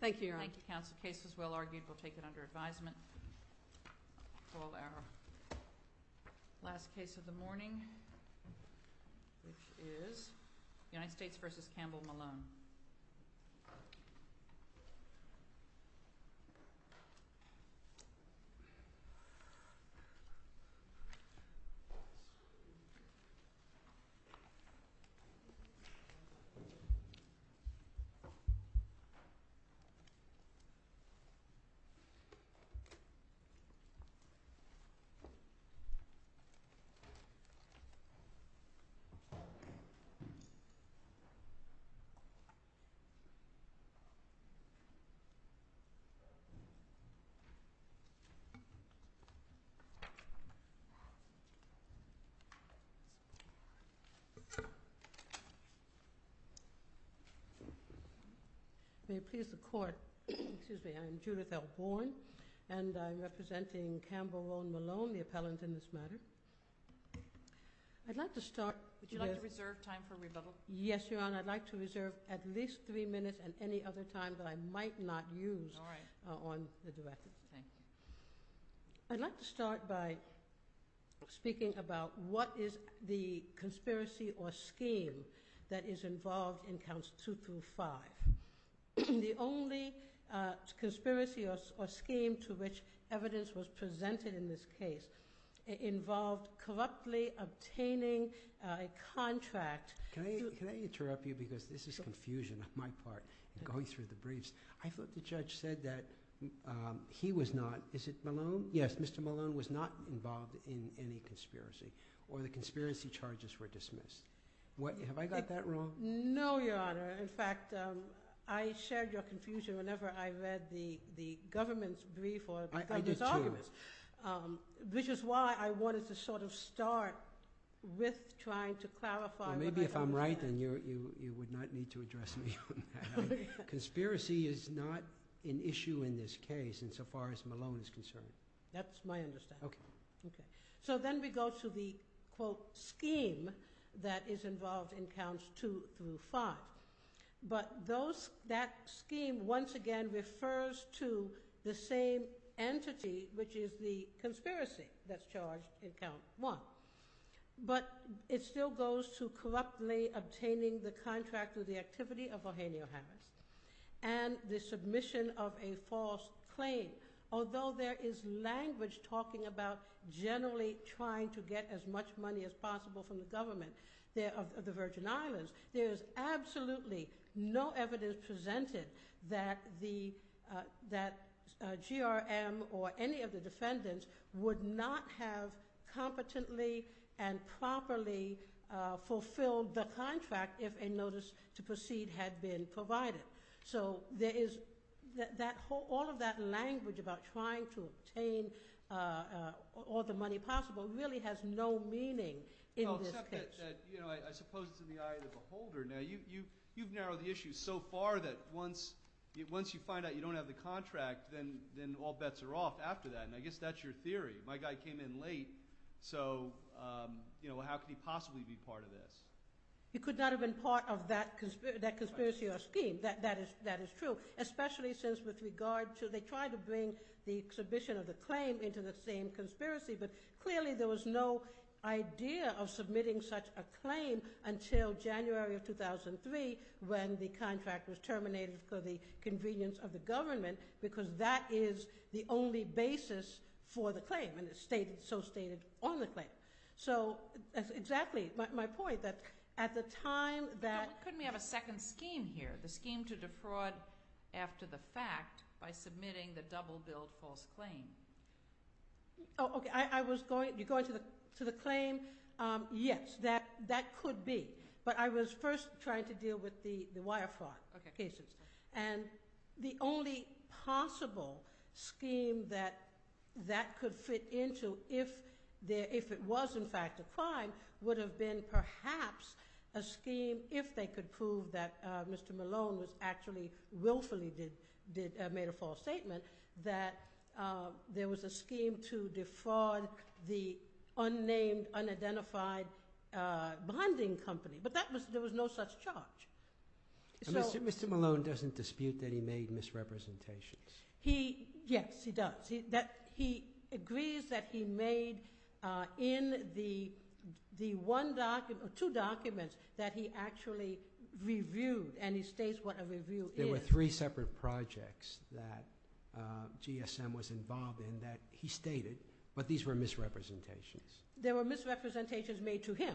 Thank you, Your Honor. Thank you, counsel. The case was well argued. We'll take it under advisement. We'll call our last case of the morning, which is United States v. Campbell Malone. May it please the Court, excuse me, I'm Judith L. Bourne, and I'm representing Campbell Rowan Malone, the appellant in this matter. I'd like to start... Would you like to reserve time for rebuttal? Yes, Your Honor. And I'd like to reserve at least three minutes, and any other time that I might not use on the record. All right. Thank you. I'd like to start by speaking about what is the conspiracy or scheme that is involved in counts two through five. The only conspiracy or scheme to which evidence was presented in this case involved corruptly obtaining a contract... Can I interrupt you? Because this is confusion on my part, going through the briefs. I thought the judge said that he was not... Is it Malone? Yes. Mr. Malone was not involved in any conspiracy, or the conspiracy charges were dismissed. Have I got that wrong? No, Your Honor. In fact, I shared your confusion whenever I read the government's brief or the government's argument. I did too. I did too, Your Honor, which is why I wanted to start with trying to clarify what I thought... Well, maybe if I'm right, then you would not need to address me on that. Conspiracy is not an issue in this case, insofar as Malone is concerned. That's my understanding. Okay. Okay. So then we go to the, quote, scheme that is involved in counts two through five. But that scheme, once again, refers to the same entity, which is the conspiracy that's charged in count one. But it still goes to corruptly obtaining the contract with the activity of Eugenio Harris, and the submission of a false claim. Although there is language talking about generally trying to get as much money as possible from the government of the Virgin Islands, there is absolutely no evidence presented that GRM or any of the defendants would not have competently and properly fulfilled the contract if a notice to proceed had been provided. So all of that language about trying to obtain all the money possible really has no meaning in this case. Well, except that, you know, I suppose it's in the eye of the beholder. Now, you've narrowed the issue so far that once you find out you don't have the contract, then all bets are off after that. And I guess that's your theory. My guy came in late, so, you know, how could he possibly be part of this? He could not have been part of that conspiracy or scheme. That is true. Especially since with regard to, they tried to bring the submission of the claim into the same conspiracy. But clearly there was no idea of submitting such a claim until January of 2003 when the contract was terminated for the convenience of the government because that is the only basis for the claim and it's so stated on the claim. So that's exactly my point that at the time that... Couldn't we have a second scheme here? The scheme to defraud after the fact by submitting the double bill false claim. Oh, okay. I was going... You're going to the claim? Yes, that could be. But I was first trying to deal with the wire fraud cases. And the only possible scheme that that could fit into if it was in fact a crime would have been perhaps a scheme if they could prove that Mr. Malone actually willfully made a false statement that there was a scheme to defraud the unnamed, unidentified bonding company. But there was no such charge. Mr. Malone doesn't dispute that he made misrepresentations. Yes, he does. He agrees that he made in the two documents that he actually reviewed and he states what a review is. There were three separate projects that GSM was involved in that he stated, but these were misrepresentations. They were misrepresentations made to him.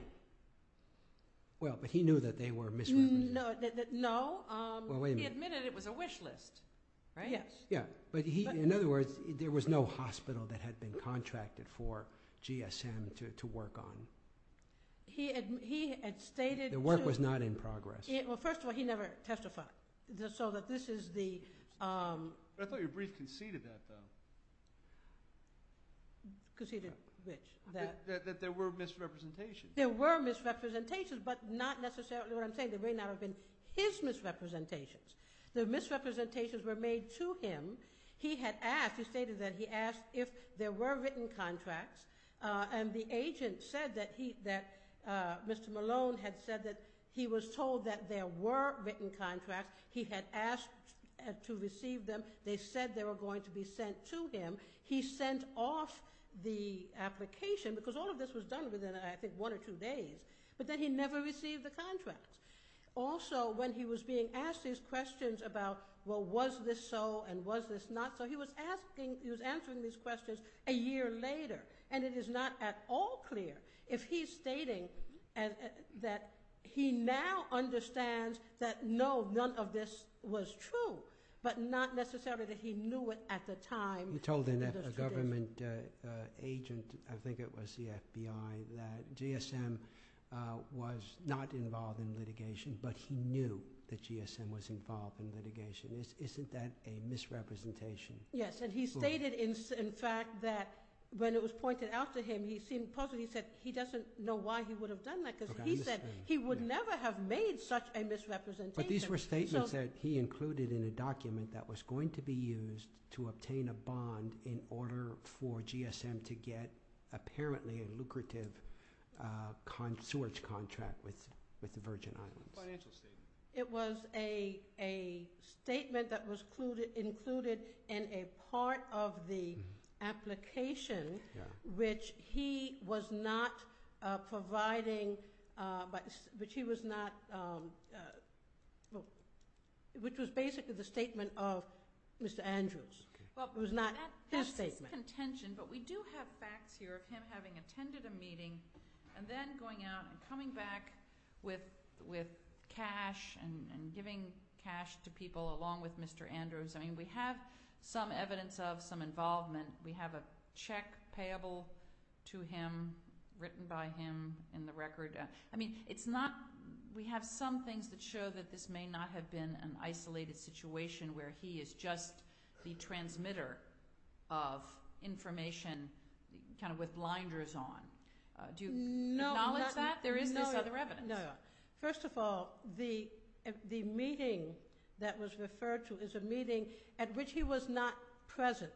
Well, but he knew that they were misrepresentations. No, he admitted it was a wish list. Right? Yes. In other words, there was no hospital that had been contracted for GSM to work on. The work was not in progress. Well, first of all, he never testified. I thought your brief conceded that though. Conceded which? That there were misrepresentations. There were misrepresentations, but not necessarily what I'm saying. There may not have been his misrepresentations. The misrepresentations were made to him. He had asked, he stated that he asked if there were written contracts and the agent said that Mr. Malone had said that he was told that there were written contracts. He had asked to receive them. They said they were going to be sent to him. He sent off the application because all of this was done within, I think, one or two days, but then he never received the contracts. Also, when he was being asked these questions about, well, was this so and was this not so, he was answering these questions a year later, and it is not at all clear. If he's stating that he now understands that no, none of this was true, but not necessarily that he knew it at the time. You told a government agent, I think it was the FBI, that GSM was not involved in litigation, but he knew that GSM was involved in litigation. Isn't that a misrepresentation? Yes, and he stated, in fact, that when it was pointed out to him, he seemed puzzled. He said he doesn't know why he would have done that because he said he would never have made such a misrepresentation. But these were statements that he included in a document that was going to be used to fund, in order for GSM to get, apparently, a lucrative sewerage contract with the Virgin Islands. Financial statement. It was a statement that was included in a part of the application, which he was not providing, which he was not, which was basically the statement of Mr. Andrews. It was not his statement. But we do have facts here of him having attended a meeting and then going out and coming back with cash and giving cash to people along with Mr. Andrews. I mean, we have some evidence of some involvement. We have a check payable to him, written by him in the record. I mean, it's not, we have some things that show that this may not have been an isolated situation where he is just the transmitter of information, kind of with blinders on. Do you acknowledge that? There is this other evidence. No, no. First of all, the meeting that was referred to is a meeting at which he was not present.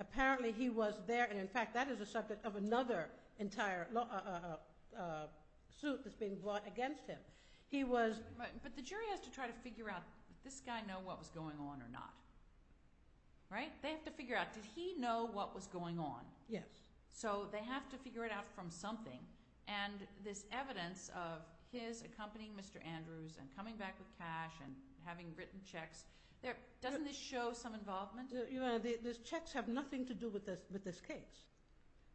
Apparently, he was there, and in fact, that is the subject of another suit that's being brought against him. He was... But the jury has to try to figure out, does this guy know what was going on or not? Right? They have to figure out, did he know what was going on? Yes. So they have to figure it out from something. And this evidence of his accompanying Mr. Andrews and coming back with cash and having written checks, doesn't this show some involvement? Your Honor, these checks have nothing to do with this case.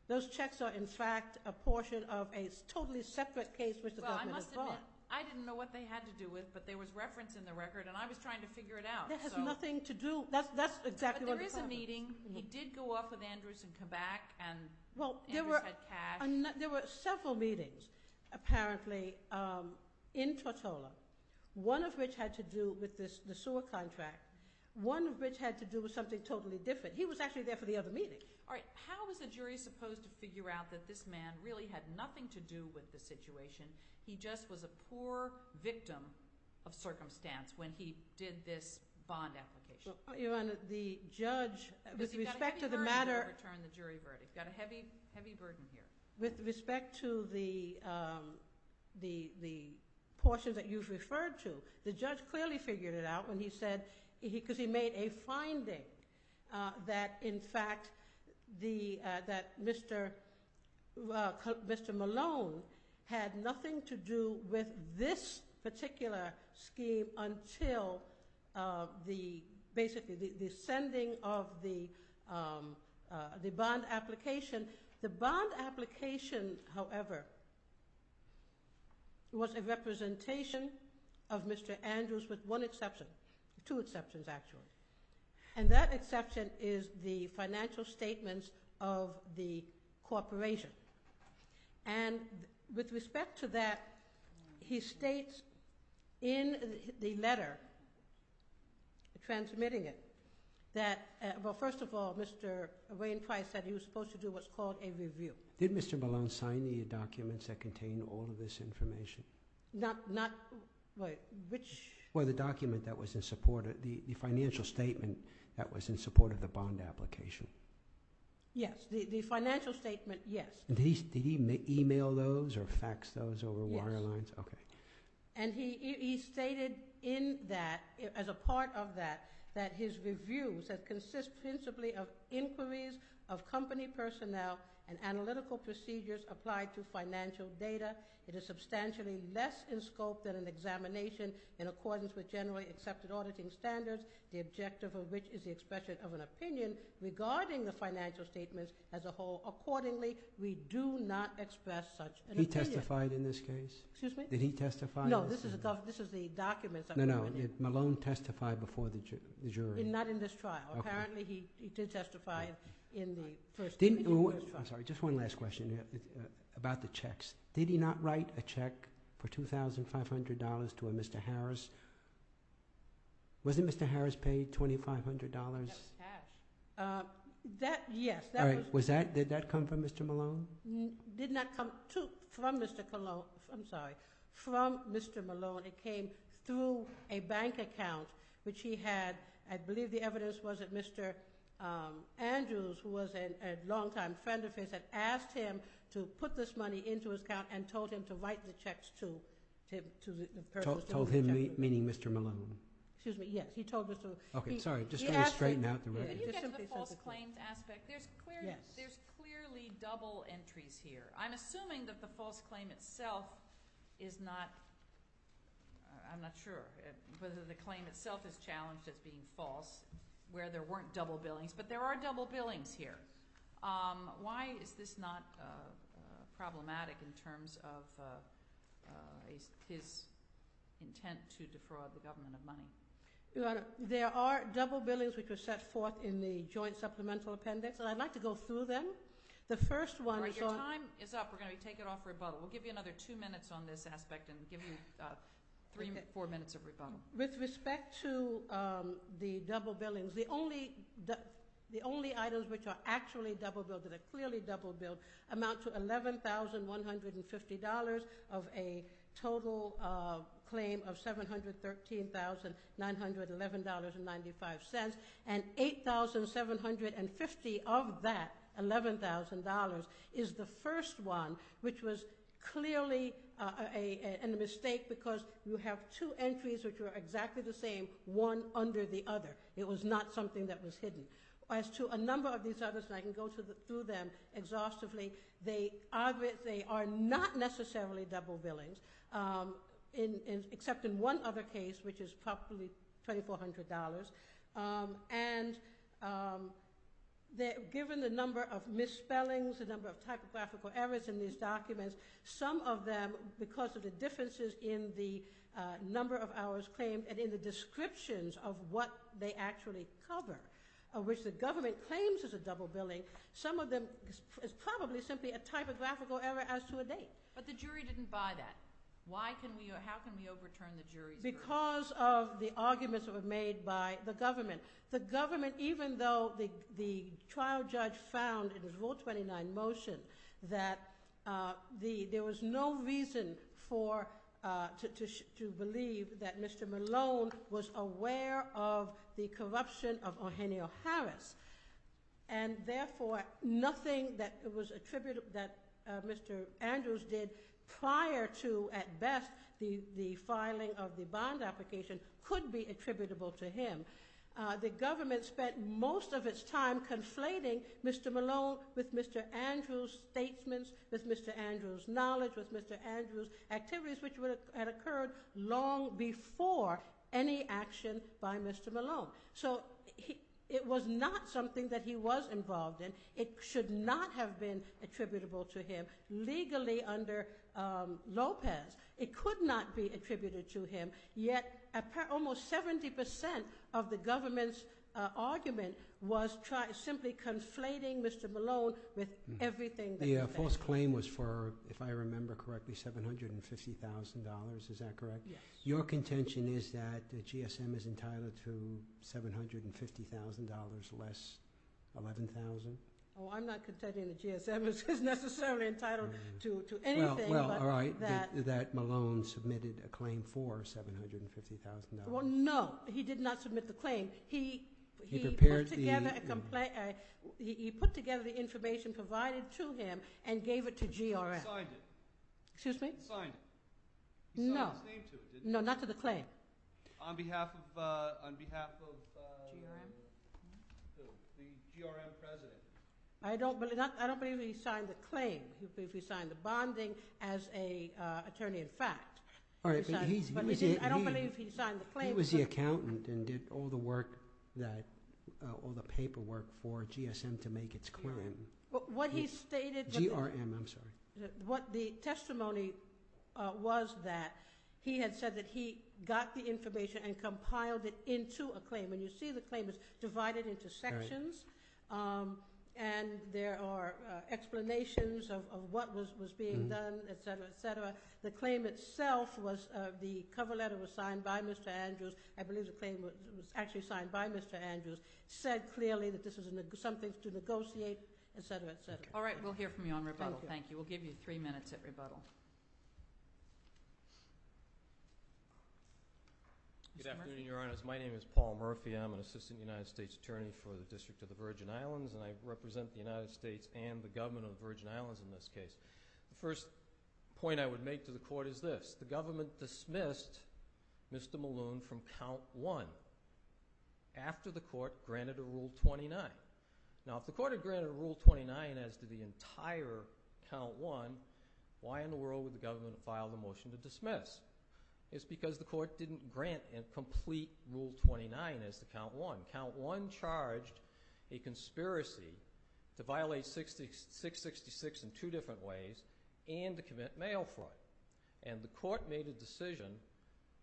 Those checks are, in fact, a portion of a totally separate case which the government has brought. I didn't know what they had to do with, but there was reference in the record, and I was trying to figure it out. That has nothing to do... That's exactly what... But there is a meeting. He did go up with Andrews and come back, and Andrews had cash. There were several meetings, apparently, in Tortola, one of which had to do with the sewer contract, one of which had to do with something totally different. He was actually there for the other meeting. All right. How is a jury supposed to figure out that this man really had nothing to do with the situation? He just was a poor victim of circumstance when he did this bond application. Your Honor, the judge, with respect to the matter... Because he got a heavy burden to overturn the jury verdict. He got a heavy burden here. With respect to the portion that you've referred to, the judge clearly figured it out when this particular scheme until, basically, the sending of the bond application. The bond application, however, was a representation of Mr. Andrews with one exception. Two exceptions, actually. That exception is the financial statements of the corporation. With respect to that, he states in the letter, transmitting it, that, well, first of all, Mr. Wayne Price said he was supposed to do what's called a review. Did Mr. Malone sign the documents that contain all of this information? Well, the document that was in support, the financial statement that was in support of the bond application. Yes. The financial statement, yes. Did he email those or fax those over wire lines? Yes. Okay. He stated in that, as a part of that, that his reviews that consist principally of inquiries of company personnel and analytical procedures applied to financial data, it is substantially less in scope than an examination in accordance with generally accepted auditing standards, the objective of which is the expression of an opinion regarding the financial statements as a whole. Accordingly, we do not express such an opinion. He testified in this case? Excuse me? Did he testify? No, this is the documents. No, no. Did Malone testify before the jury? Not in this trial. Apparently, he did testify in the first trial. I'm sorry, just one last question about the checks. Did he not write a check for $2,500 to a Mr. Harris? Wasn't Mr. Harris paid $2,500? That's cash. Yes. All right. Did that come from Mr. Malone? Did not come from Mr. Malone. I'm sorry. From Mr. Malone. It came through a bank account, which he had, I believe the evidence was that Mr. Andrews, who was a longtime friend of his, had asked him to put this money into his account and told him to write the checks to him. Told him, meaning Mr. Malone? Excuse me, yes. He told Mr. Malone. Okay, sorry. Just trying to straighten out the record. Could you get to the false claims aspect? There's clearly double entries here. I'm assuming that the false claim itself is not, I'm not sure whether the claim itself is challenged as being false, where there weren't double billings, but there are double billings here. Why is this not problematic in terms of his intent to defraud the government of money? Your Honor, there are double billings which were set forth in the joint supplemental appendix, and I'd like to go through them. The first one is on— All right, your time is up. We're going to take it off rebuttal. We'll give you another two minutes on this aspect and give you three, four minutes of rebuttal. With respect to the double billings, the only items which are actually double billed, that are clearly double billed, amount to $11,150 of a total claim of $713,911.95, and $8,750 of that $11,000 is the first one, which was clearly a mistake because you have two entries which were exactly the same, one under the other. It was not something that was hidden. As to a number of these others, and I can go through them exhaustively, they are not necessarily double billings, except in one other case, which is probably $2,400, and given the number of misspellings, the number of typographical errors in these documents, some of them, because of the differences in the number of hours claimed and in the descriptions of what they actually cover, of which the government claims is a double billing, some of them is probably simply a typographical error as to a date. But the jury didn't buy that. How can we overturn the jury's verdict? Because of the arguments that were made by the government. The government, even though the trial judge found in his Rule 29 motion that there was no reason to believe that Mr. Malone was aware of the corruption of Eugenio Harris, and therefore nothing that was attributed, that Mr. Andrews did prior to, at best, the filing of the bond application could be attributable to him, the government spent most of its time conflating Mr. Malone with Mr. Andrews' statements, with Mr. Andrews' knowledge, with Mr. Andrews' activities, which had occurred long before any action by Mr. Malone. So it was not something that he was involved in. It should not have been attributable to him legally under Lopez. It could not be attributed to him, yet almost 70% of the government's argument was simply conflating Mr. Malone with everything that he said. The false claim was for, if I remember correctly, $750,000, is that correct? Yes. Your contention is that the GSM is entitled to $750,000 less $11,000? Oh, I'm not contending the GSM is necessarily entitled to anything but that. All right, that Malone submitted a claim for $750,000. Well, no, he did not submit the claim. He prepared the... He put together the information provided to him and gave it to GRM. He signed it. Excuse me? He signed it. No. He signed his name to it, didn't he? No, not to the claim. On behalf of the GRM president. I don't believe he signed the claim. He signed the bonding as an attorney-in-fact. All right, but he's... I don't believe he signed the claim. He was the accountant and did all the paperwork for GSM to make its claim. What he stated... GRM, I'm sorry. The testimony was that he had said that he got the information and compiled it into a claim. And you see the claim is divided into sections and there are explanations of what was being done, et cetera, et cetera. The claim itself was... The cover letter was signed by Mr. Andrews. I believe the claim was actually signed by Mr. Andrews. Said clearly that this was something to negotiate, et cetera, et cetera. All right, we'll hear from you on rebuttal. Thank you. We'll give you three minutes at rebuttal. Good afternoon, Your Honors. My name is Paul Murphy. I'm an Assistant United States Attorney for the District of the Virgin Islands, and I represent the United States and the government of the Virgin Islands in this case. The first point I would make to the court is this. The government dismissed Mr. Malone from Count One after the court granted a Rule 29. Now, if the court had granted a Rule 29 as to the entire Count One, why in the world would the government file the motion to dismiss? It's because the court didn't grant a complete Rule 29 as to Count One. Count One charged a conspiracy to violate 666 in two different ways and to commit mail fraud, and the court made a decision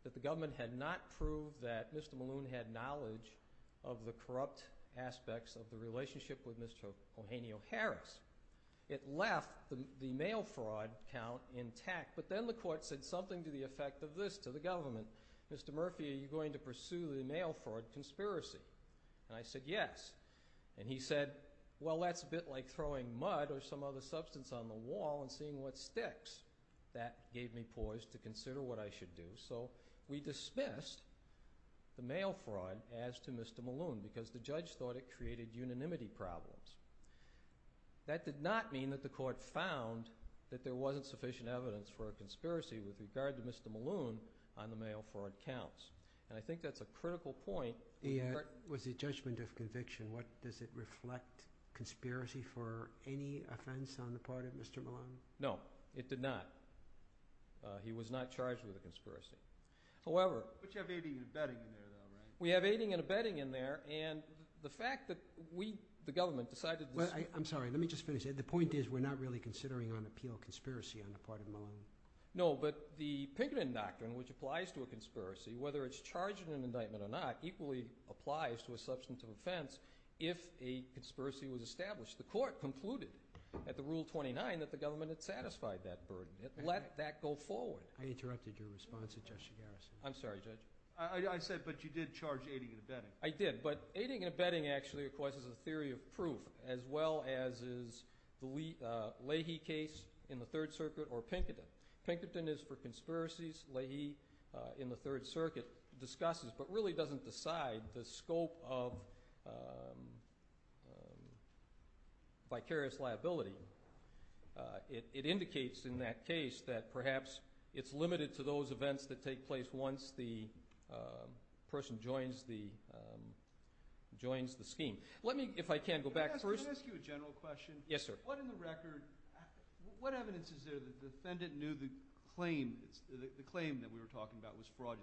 that the government had not proved that Mr. Malone had knowledge of the corrupt aspects of the relationship with Mr. Eugenio Harris. It left the mail fraud count intact, but then the court said something to the effect of this to the government. Mr. Murphy, are you going to pursue the mail fraud conspiracy? And I said yes, and he said, well, that's a bit like throwing mud or some other substance on the wall and seeing what sticks. That gave me pause to consider what I should do, so we dismissed the mail fraud as to Mr. Malone because the judge thought it created unanimity problems. That did not mean that the court found that there wasn't sufficient evidence for a conspiracy with regard to Mr. Malone on the mail fraud counts, and I think that's a critical point. Was it judgment of conviction? Does it reflect conspiracy for any offense on the part of Mr. Malone? No, it did not. He was not charged with a conspiracy. However, we have aiding and abetting in there, and the fact that we, the government, decided— Well, I'm sorry. Let me just finish. The point is we're not really considering on appeal conspiracy on the part of Malone. No, but the Pinkerton Doctrine, which applies to a conspiracy, whether it's charged in an indictment or not, equally applies to a substance of offense if a conspiracy was established. The court concluded at the Rule 29 that the government had satisfied that burden. It let that go forward. I interrupted your response at Justice Garrison. I'm sorry, Judge. I said, but you did charge aiding and abetting. I did, but aiding and abetting actually, of course, is a theory of proof, as well as is the Leahy case in the Third Circuit or Pinkerton. Pinkerton is for conspiracies. Leahy in the Third Circuit discusses but really doesn't decide the scope of vicarious liability. It indicates in that case that perhaps it's limited to those events that take place once the person joins the scheme. Let me, if I can, go back first. Can I ask you a general question? Yes, sir. What evidence is there that the defendant knew the claim that we were talking about was fraudulent?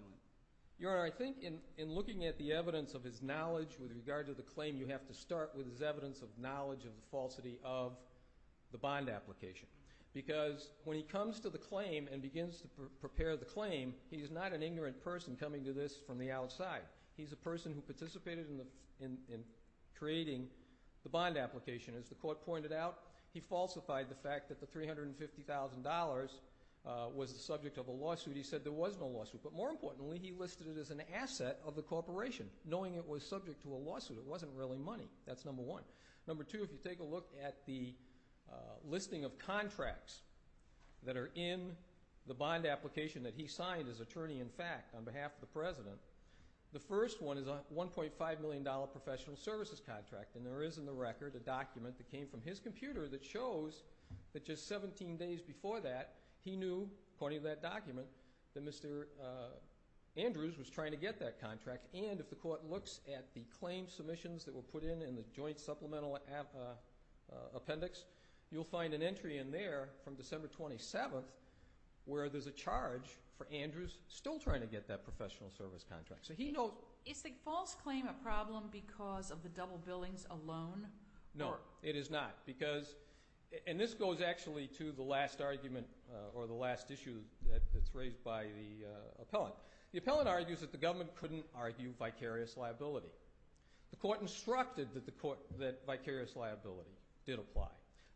Your Honor, I think in looking at the evidence of his knowledge with regard to the claim, you have to start with his evidence of knowledge and falsity of the bond application because when he comes to the claim and begins to prepare the claim, he is not an ignorant person coming to this from the outside. He's a person who participated in creating the bond application. As the court pointed out, he falsified the fact that the $350,000 was the subject of a lawsuit. He said there was no lawsuit, but more importantly, he listed it as an asset of the corporation, knowing it was subject to a lawsuit. It wasn't really money. That's number one. Number two, if you take a look at the listing of contracts that are in the bond application that he signed as attorney-in-fact on behalf of the President, the first one is a $1.5 million professional services contract, and there is in the record a document that came from his computer that shows that just 17 days before that, he knew, according to that document, that Mr. Andrews was trying to get that contract, and if the court looks at the claim submissions that were put in in the joint supplemental appendix, you'll find an entry in there from December 27th where there's a charge for Andrews still trying to get that professional service contract. So he knows. Is the false claim a problem because of the double billings alone? No, it is not, and this goes actually to the last argument or the last issue that's raised by the appellant. The appellant argues that the government couldn't argue vicarious liability. The court instructed that vicarious liability did apply.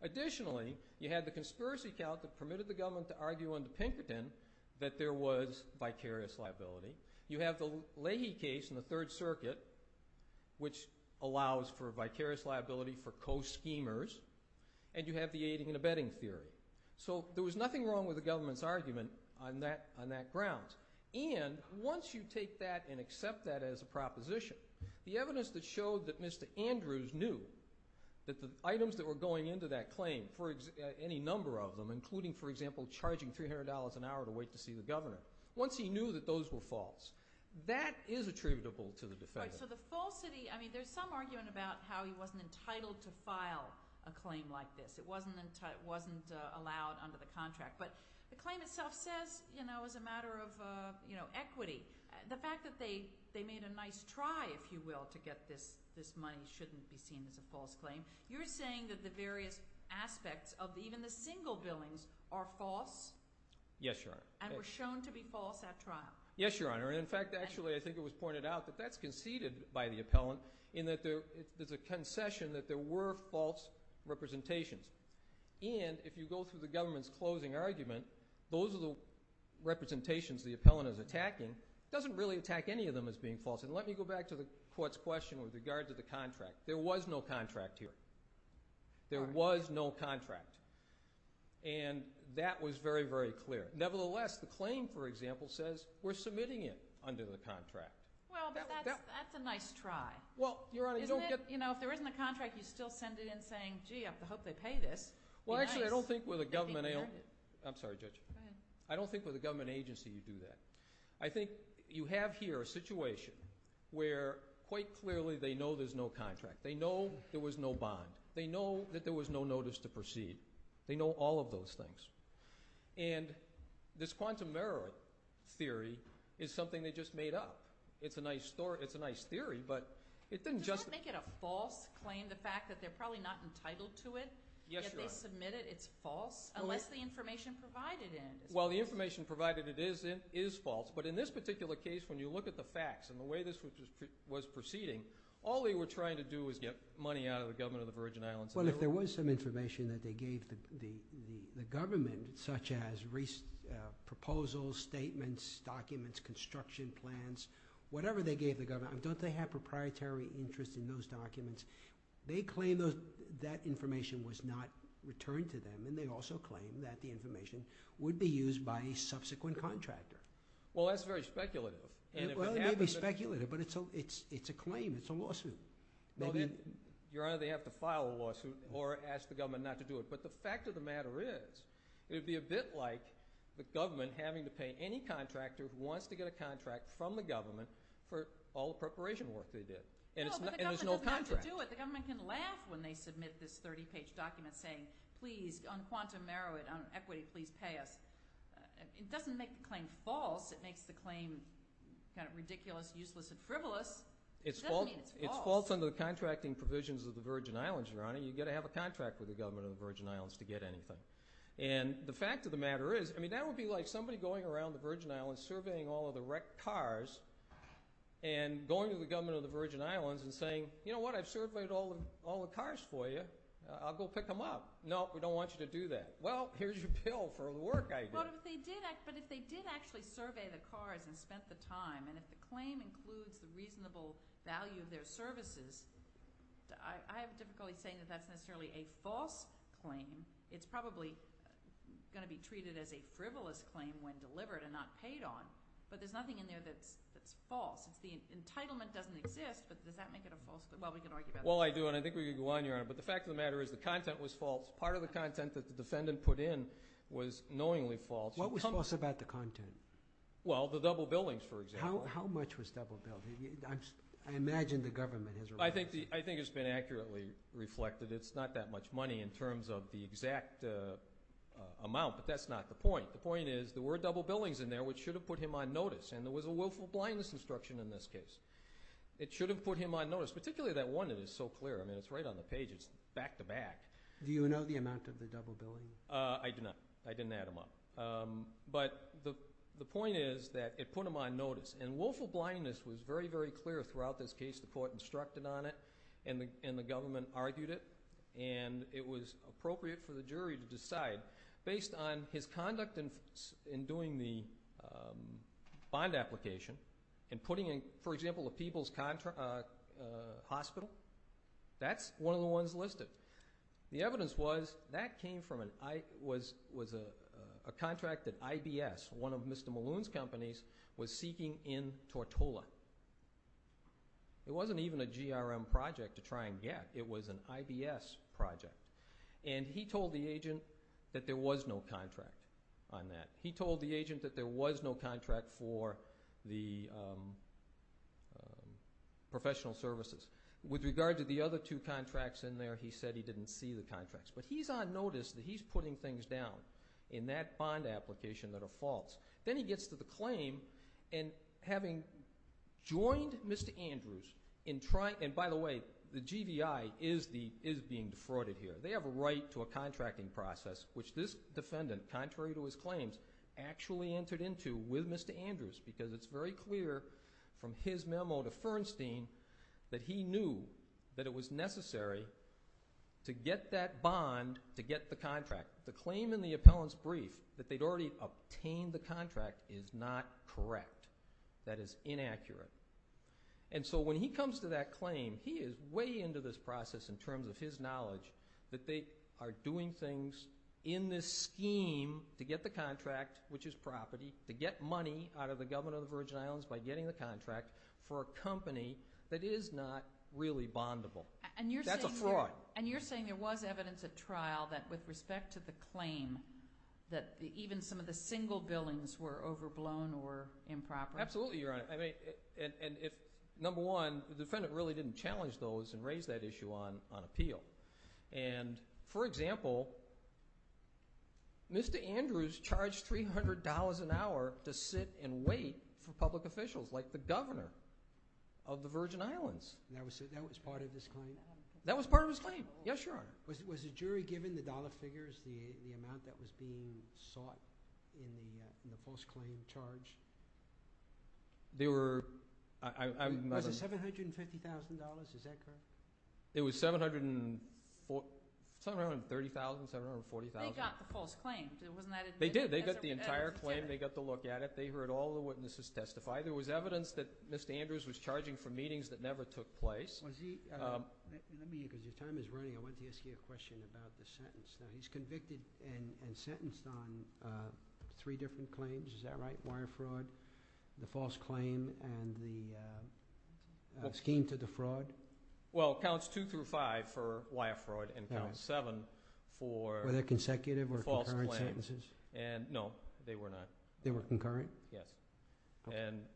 Additionally, you had the conspiracy count that permitted the government to argue under Pinkerton that there was vicarious liability. You have the Leahy case in the Third Circuit, which allows for vicarious liability for co-schemers, and you have the aiding and abetting theory. So there was nothing wrong with the government's argument on that ground, and once you take that and accept that as a proposition, the evidence that showed that Mr. Andrews knew that the items that were going into that claim, any number of them, including, for example, charging $300 an hour to wait to see the governor, once he knew that those were false, that is attributable to the defendant. So the falsity, I mean, there's some argument about how he wasn't entitled to file a claim like this. It wasn't allowed under the contract, but the claim itself says, you know, as a matter of equity, the fact that they made a nice try, if you will, to get this money shouldn't be seen as a false claim. You're saying that the various aspects of even the single billings are false? Yes, Your Honor. And were shown to be false at trial? Yes, Your Honor. In fact, actually, I think it was pointed out that that's conceded by the appellant in that there's a concession that there were false representations. And if you go through the government's closing argument, those are the representations the appellant is attacking. It doesn't really attack any of them as being false. And let me go back to the court's question with regard to the contract. There was no contract here. There was no contract. And that was very, very clear. Nevertheless, the claim, for example, says we're submitting it under the contract. Well, but that's a nice try. Well, Your Honor, you don't get— You know, if there isn't a contract, you still send it in saying, gee, I hope they pay this. Well, actually, I don't think with a government agency you do that. I think you have here a situation where quite clearly they know there's no contract. They know there was no bond. They know that there was no notice to proceed. They know all of those things. And this quantum error theory is something they just made up. It's a nice theory, but it didn't just— It's false claim, the fact that they're probably not entitled to it. Yet they submit it. It's false? Unless the information provided in it is false. Well, the information provided in it is false. But in this particular case, when you look at the facts and the way this was proceeding, all they were trying to do was get money out of the government of the Virgin Islands. Well, if there was some information that they gave the government, such as proposals, statements, documents, construction plans, whatever they gave the government, don't they have proprietary interest in those documents? They claim that information was not returned to them, and they also claim that the information would be used by a subsequent contractor. Well, that's very speculative. Well, it may be speculative, but it's a claim. It's a lawsuit. Your Honor, they have to file a lawsuit or ask the government not to do it. But the fact of the matter is, it would be a bit like the government having to pay any contractor who wants to get a contract from the government for all the preparation work they did, and there's no contract. No, but the government doesn't have to do it. The government can laugh when they submit this 30-page document saying, please, on quantum merit, on equity, please pay us. It doesn't make the claim false. It makes the claim kind of ridiculous, useless, and frivolous. It doesn't mean it's false. It's false under the contracting provisions of the Virgin Islands, Your Honor. You've got to have a contract with the government of the Virgin Islands to get anything. And the fact of the matter is, that would be like somebody going around the Virgin Islands surveying all of the wrecked cars and going to the government of the Virgin Islands and saying, you know what, I've surveyed all the cars for you. I'll go pick them up. No, we don't want you to do that. Well, here's your bill for the work I did. But if they did actually survey the cars and spent the time, and if the claim includes the reasonable value of their services, I have difficulty saying that that's necessarily a false claim. It's probably going to be treated as a frivolous claim when delivered and not paid on. But there's nothing in there that's false. The entitlement doesn't exist, but does that make it a false claim? Well, I do, and I think we can go on, Your Honor. But the fact of the matter is the content was false. Part of the content that the defendant put in was knowingly false. What was false about the content? Well, the double billings, for example. How much was double billed? I imagine the government has reported. I think it's been accurately reflected. It's not that much money in terms of the exact amount, but that's not the point. The point is there were double billings in there which should have put him on notice, and there was a willful blindness instruction in this case. It should have put him on notice, particularly that one that is so clear. I mean it's right on the page. It's back to back. Do you know the amount of the double billing? I do not. I didn't add them up. But the point is that it put him on notice, and willful blindness was very, very clear throughout this case. The court instructed on it, and the government argued it, and it was appropriate for the jury to decide. Based on his conduct in doing the bond application and putting in, for example, a people's hospital, that's one of the ones listed. The evidence was that came from a contract that IBS, one of Mr. Malone's companies, was seeking in Tortola. It wasn't even a GRM project to try and get. It was an IBS project. And he told the agent that there was no contract on that. He told the agent that there was no contract for the professional services. With regard to the other two contracts in there, he said he didn't see the contracts. But he's on notice that he's putting things down in that bond application that are false. Then he gets to the claim, and having joined Mr. Andrews in trying— and by the way, the GVI is being defrauded here. They have a right to a contracting process, which this defendant, contrary to his claims, actually entered into with Mr. Andrews because it's very clear from his memo to Fernstein that he knew that it was necessary to get that bond to get the contract. The claim in the appellant's brief that they'd already obtained the contract is not correct. That is inaccurate. And so when he comes to that claim, he is way into this process in terms of his knowledge that they are doing things in this scheme to get the contract, which is property, to get money out of the government of the Virgin Islands by getting the contract for a company that is not really bondable. That's a fraud. And you're saying there was evidence at trial that with respect to the claim that even some of the single billings were overblown or improper? Absolutely, Your Honor. Number one, the defendant really didn't challenge those and raise that issue on appeal. For example, Mr. Andrews charged $300 an hour to sit and wait for public officials like the governor of the Virgin Islands. That was part of his claim? That was part of his claim. Yes, Your Honor. Was the jury given the dollar figures, the amount that was being sought in the false claim charge? They were. Was it $750,000? Is that correct? It was $730,000, $740,000. They got the false claim. Wasn't that admitted? They did. They got the entire claim. They got to look at it. They heard all the witnesses testify. There was evidence that Mr. Andrews was charging for meetings that never took place. Your time is running. I want to ask you a question about the sentence. He's convicted and sentenced on three different claims. Is that right? Wire fraud, the false claim, and the scheme to defraud? Well, counts two through five for wire fraud and counts seven for the false claim. Were they consecutive or concurrent sentences? No, they were not. They were concurrent? Yes.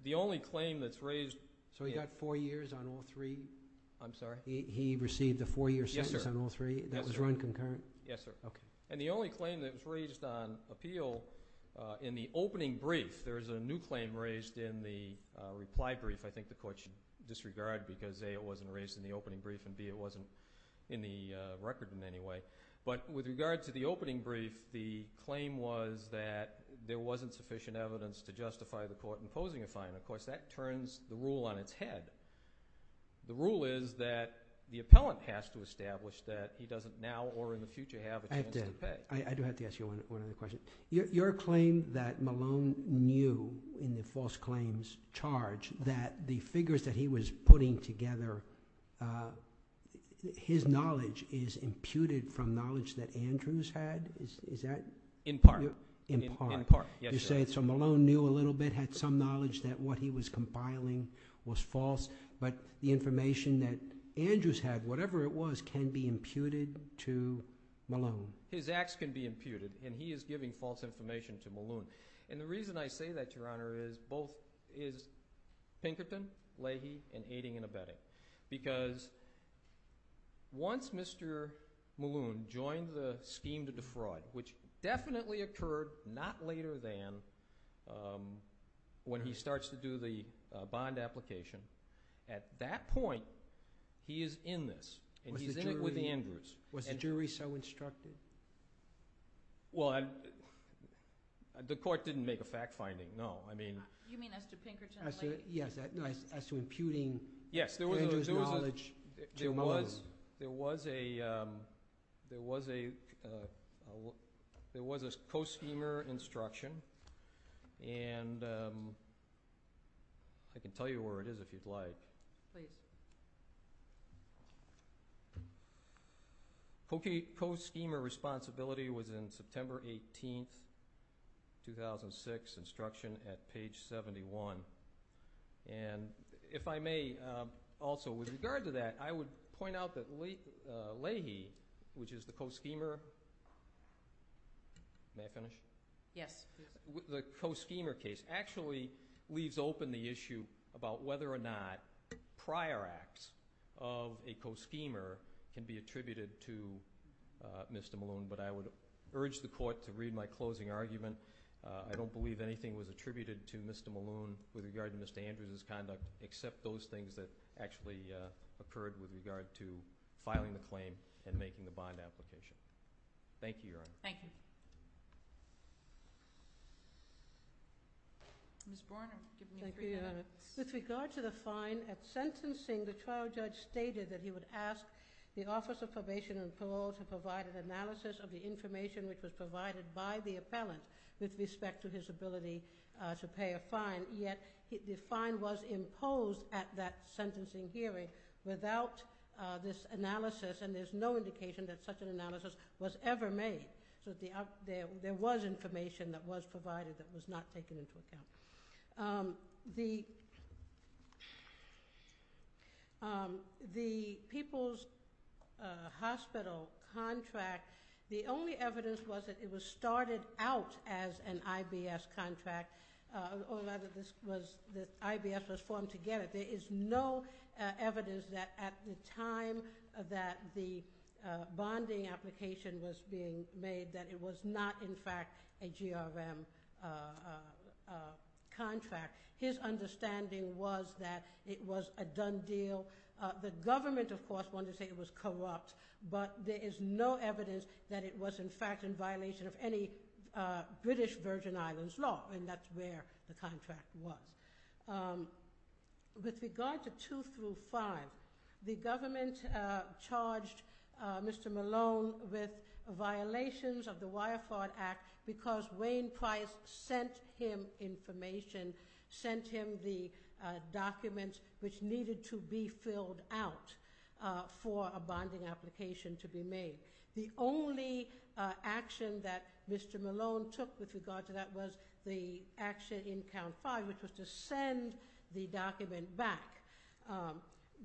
The only claim that's raised— So he got four years on all three? I'm sorry? He received a four-year sentence on all three? Yes, sir. That was run concurrent? Yes, sir. Okay. The only claim that was raised on appeal in the opening brief, there was a new claim raised in the reply brief. I think the court should disregard because, A, it wasn't raised in the opening brief, and, B, it wasn't in the record in any way. But with regard to the opening brief, the claim was that there wasn't sufficient evidence to justify the court imposing a fine. Of course, that turns the rule on its head. The rule is that the appellant has to establish that he doesn't now or in the future have a chance to pay. I do have to ask you one other question. Your claim that Malone knew in the false claims charge that the figures that he was putting together, his knowledge is imputed from knowledge that Andrews had? Is that— In part. In part. In part, yes, sir. So Malone knew a little bit, had some knowledge that what he was compiling was false, but the information that Andrews had, whatever it was, can be imputed to Malone? His acts can be imputed, and he is giving false information to Malone. And the reason I say that, Your Honor, is both—is Pinkerton, Leahy, and Aiding and Abetting. Because once Mr. Malone joined the scheme to defraud, which definitely occurred not later than when he starts to do the bond application, at that point, he is in this, and he's in it with Andrews. Was the jury so instructed? Well, the court didn't make a fact finding, no. You mean as to Pinkerton, Leahy? Yes, as to imputing Andrews' knowledge to Malone. There was a co-schemer instruction, and I can tell you where it is if you'd like. Please. Co-schemer responsibility was in September 18, 2006, instruction at page 71. And if I may also, with regard to that, I would point out that Leahy, which is the co-schemer—may I finish? Yes. The co-schemer case actually leaves open the issue about whether or not prior acts of a co-schemer can be attributed to Mr. Malone. But I would urge the court to read my closing argument. I don't believe anything was attributed to Mr. Malone with regard to Mr. Andrews' conduct, except those things that actually occurred with regard to filing the claim and making the bond application. Thank you, Your Honor. Thank you. Ms. Borner, give me a brief comment. Thank you, Your Honor. With regard to the fine at sentencing, the trial judge stated that he would ask the Office of Probation and Parole to provide an analysis of the information which was provided by the appellant with respect to his ability to pay a fine. And yet, the fine was imposed at that sentencing hearing without this analysis, and there's no indication that such an analysis was ever made. So there was information that was provided that was not taken into account. The People's Hospital contract, the only evidence was that it was started out as an IBS contract, or that IBS was formed to get it. There is no evidence that at the time that the bonding application was being made that it was not, in fact, a GRM contract. His understanding was that it was a done deal. The government, of course, wanted to say it was corrupt, but there is no evidence that it was, in fact, in violation of any British Virgin Islands law, and that's where the contract was. With regard to 2 through 5, the government charged Mr. Malone with violations of the Wirefart Act because Wayne Price sent him information, sent him the documents which needed to be filled out for a bonding application to be made. The only action that Mr. Malone took with regard to that was the action in Count 5, which was to send the document back.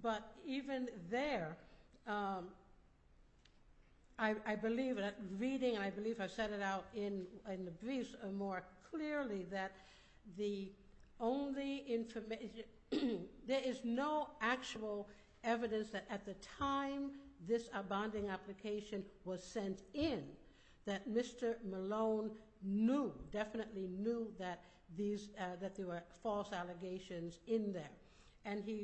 But even there, I believe that reading, and I believe I've said it out in the briefs more clearly, that there is no actual evidence that at the time this bonding application was sent in that Mr. Malone knew, definitely knew, that there were false allegations in there.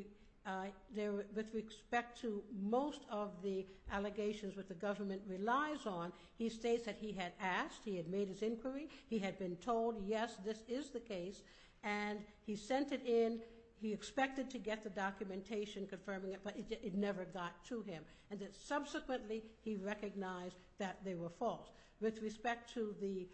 With respect to most of the allegations that the government relies on, he states that he had asked, he had made his inquiry, he had been told, yes, this is the case, and he sent it in. He expected to get the documentation confirming it, but it never got to him. And that subsequently, he recognized that they were false. With respect to the,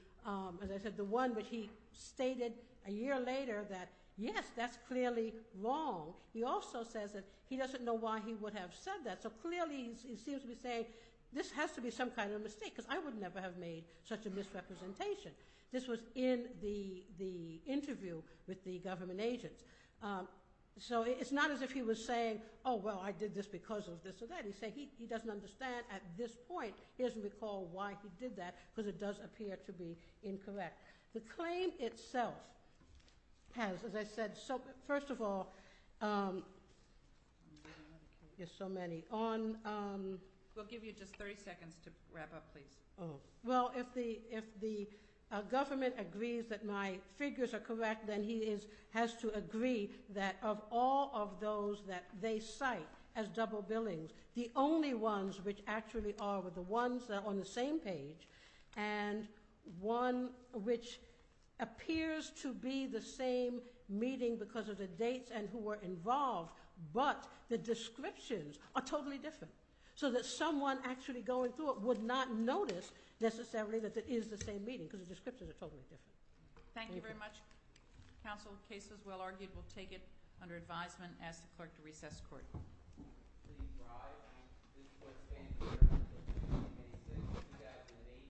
as I said, the one that he stated a year later that, yes, that's clearly wrong, he also says that he doesn't know why he would have said that. So clearly, he seems to be saying, this has to be some kind of mistake, because I would never have made such a misrepresentation. This was in the interview with the government agents. So it's not as if he was saying, oh, well, I did this because of this or that. He said he doesn't understand at this point his recall why he did that, because it does appear to be incorrect. The claim itself has, as I said, so first of all, there's so many. We'll give you just 30 seconds to wrap up, please. Well, if the government agrees that my figures are correct, then he has to agree that of all of those that they cite as double billings, the only ones which actually are the ones that are on the same page, and one which appears to be the same meeting because of the dates and who were involved, but the descriptions are totally different. So that someone actually going through it would not notice necessarily that it is the same meeting, because the descriptions are totally different. Thank you very much. Counsel, the case is well argued. We'll take it under advisement. I ask the clerk to recess the court.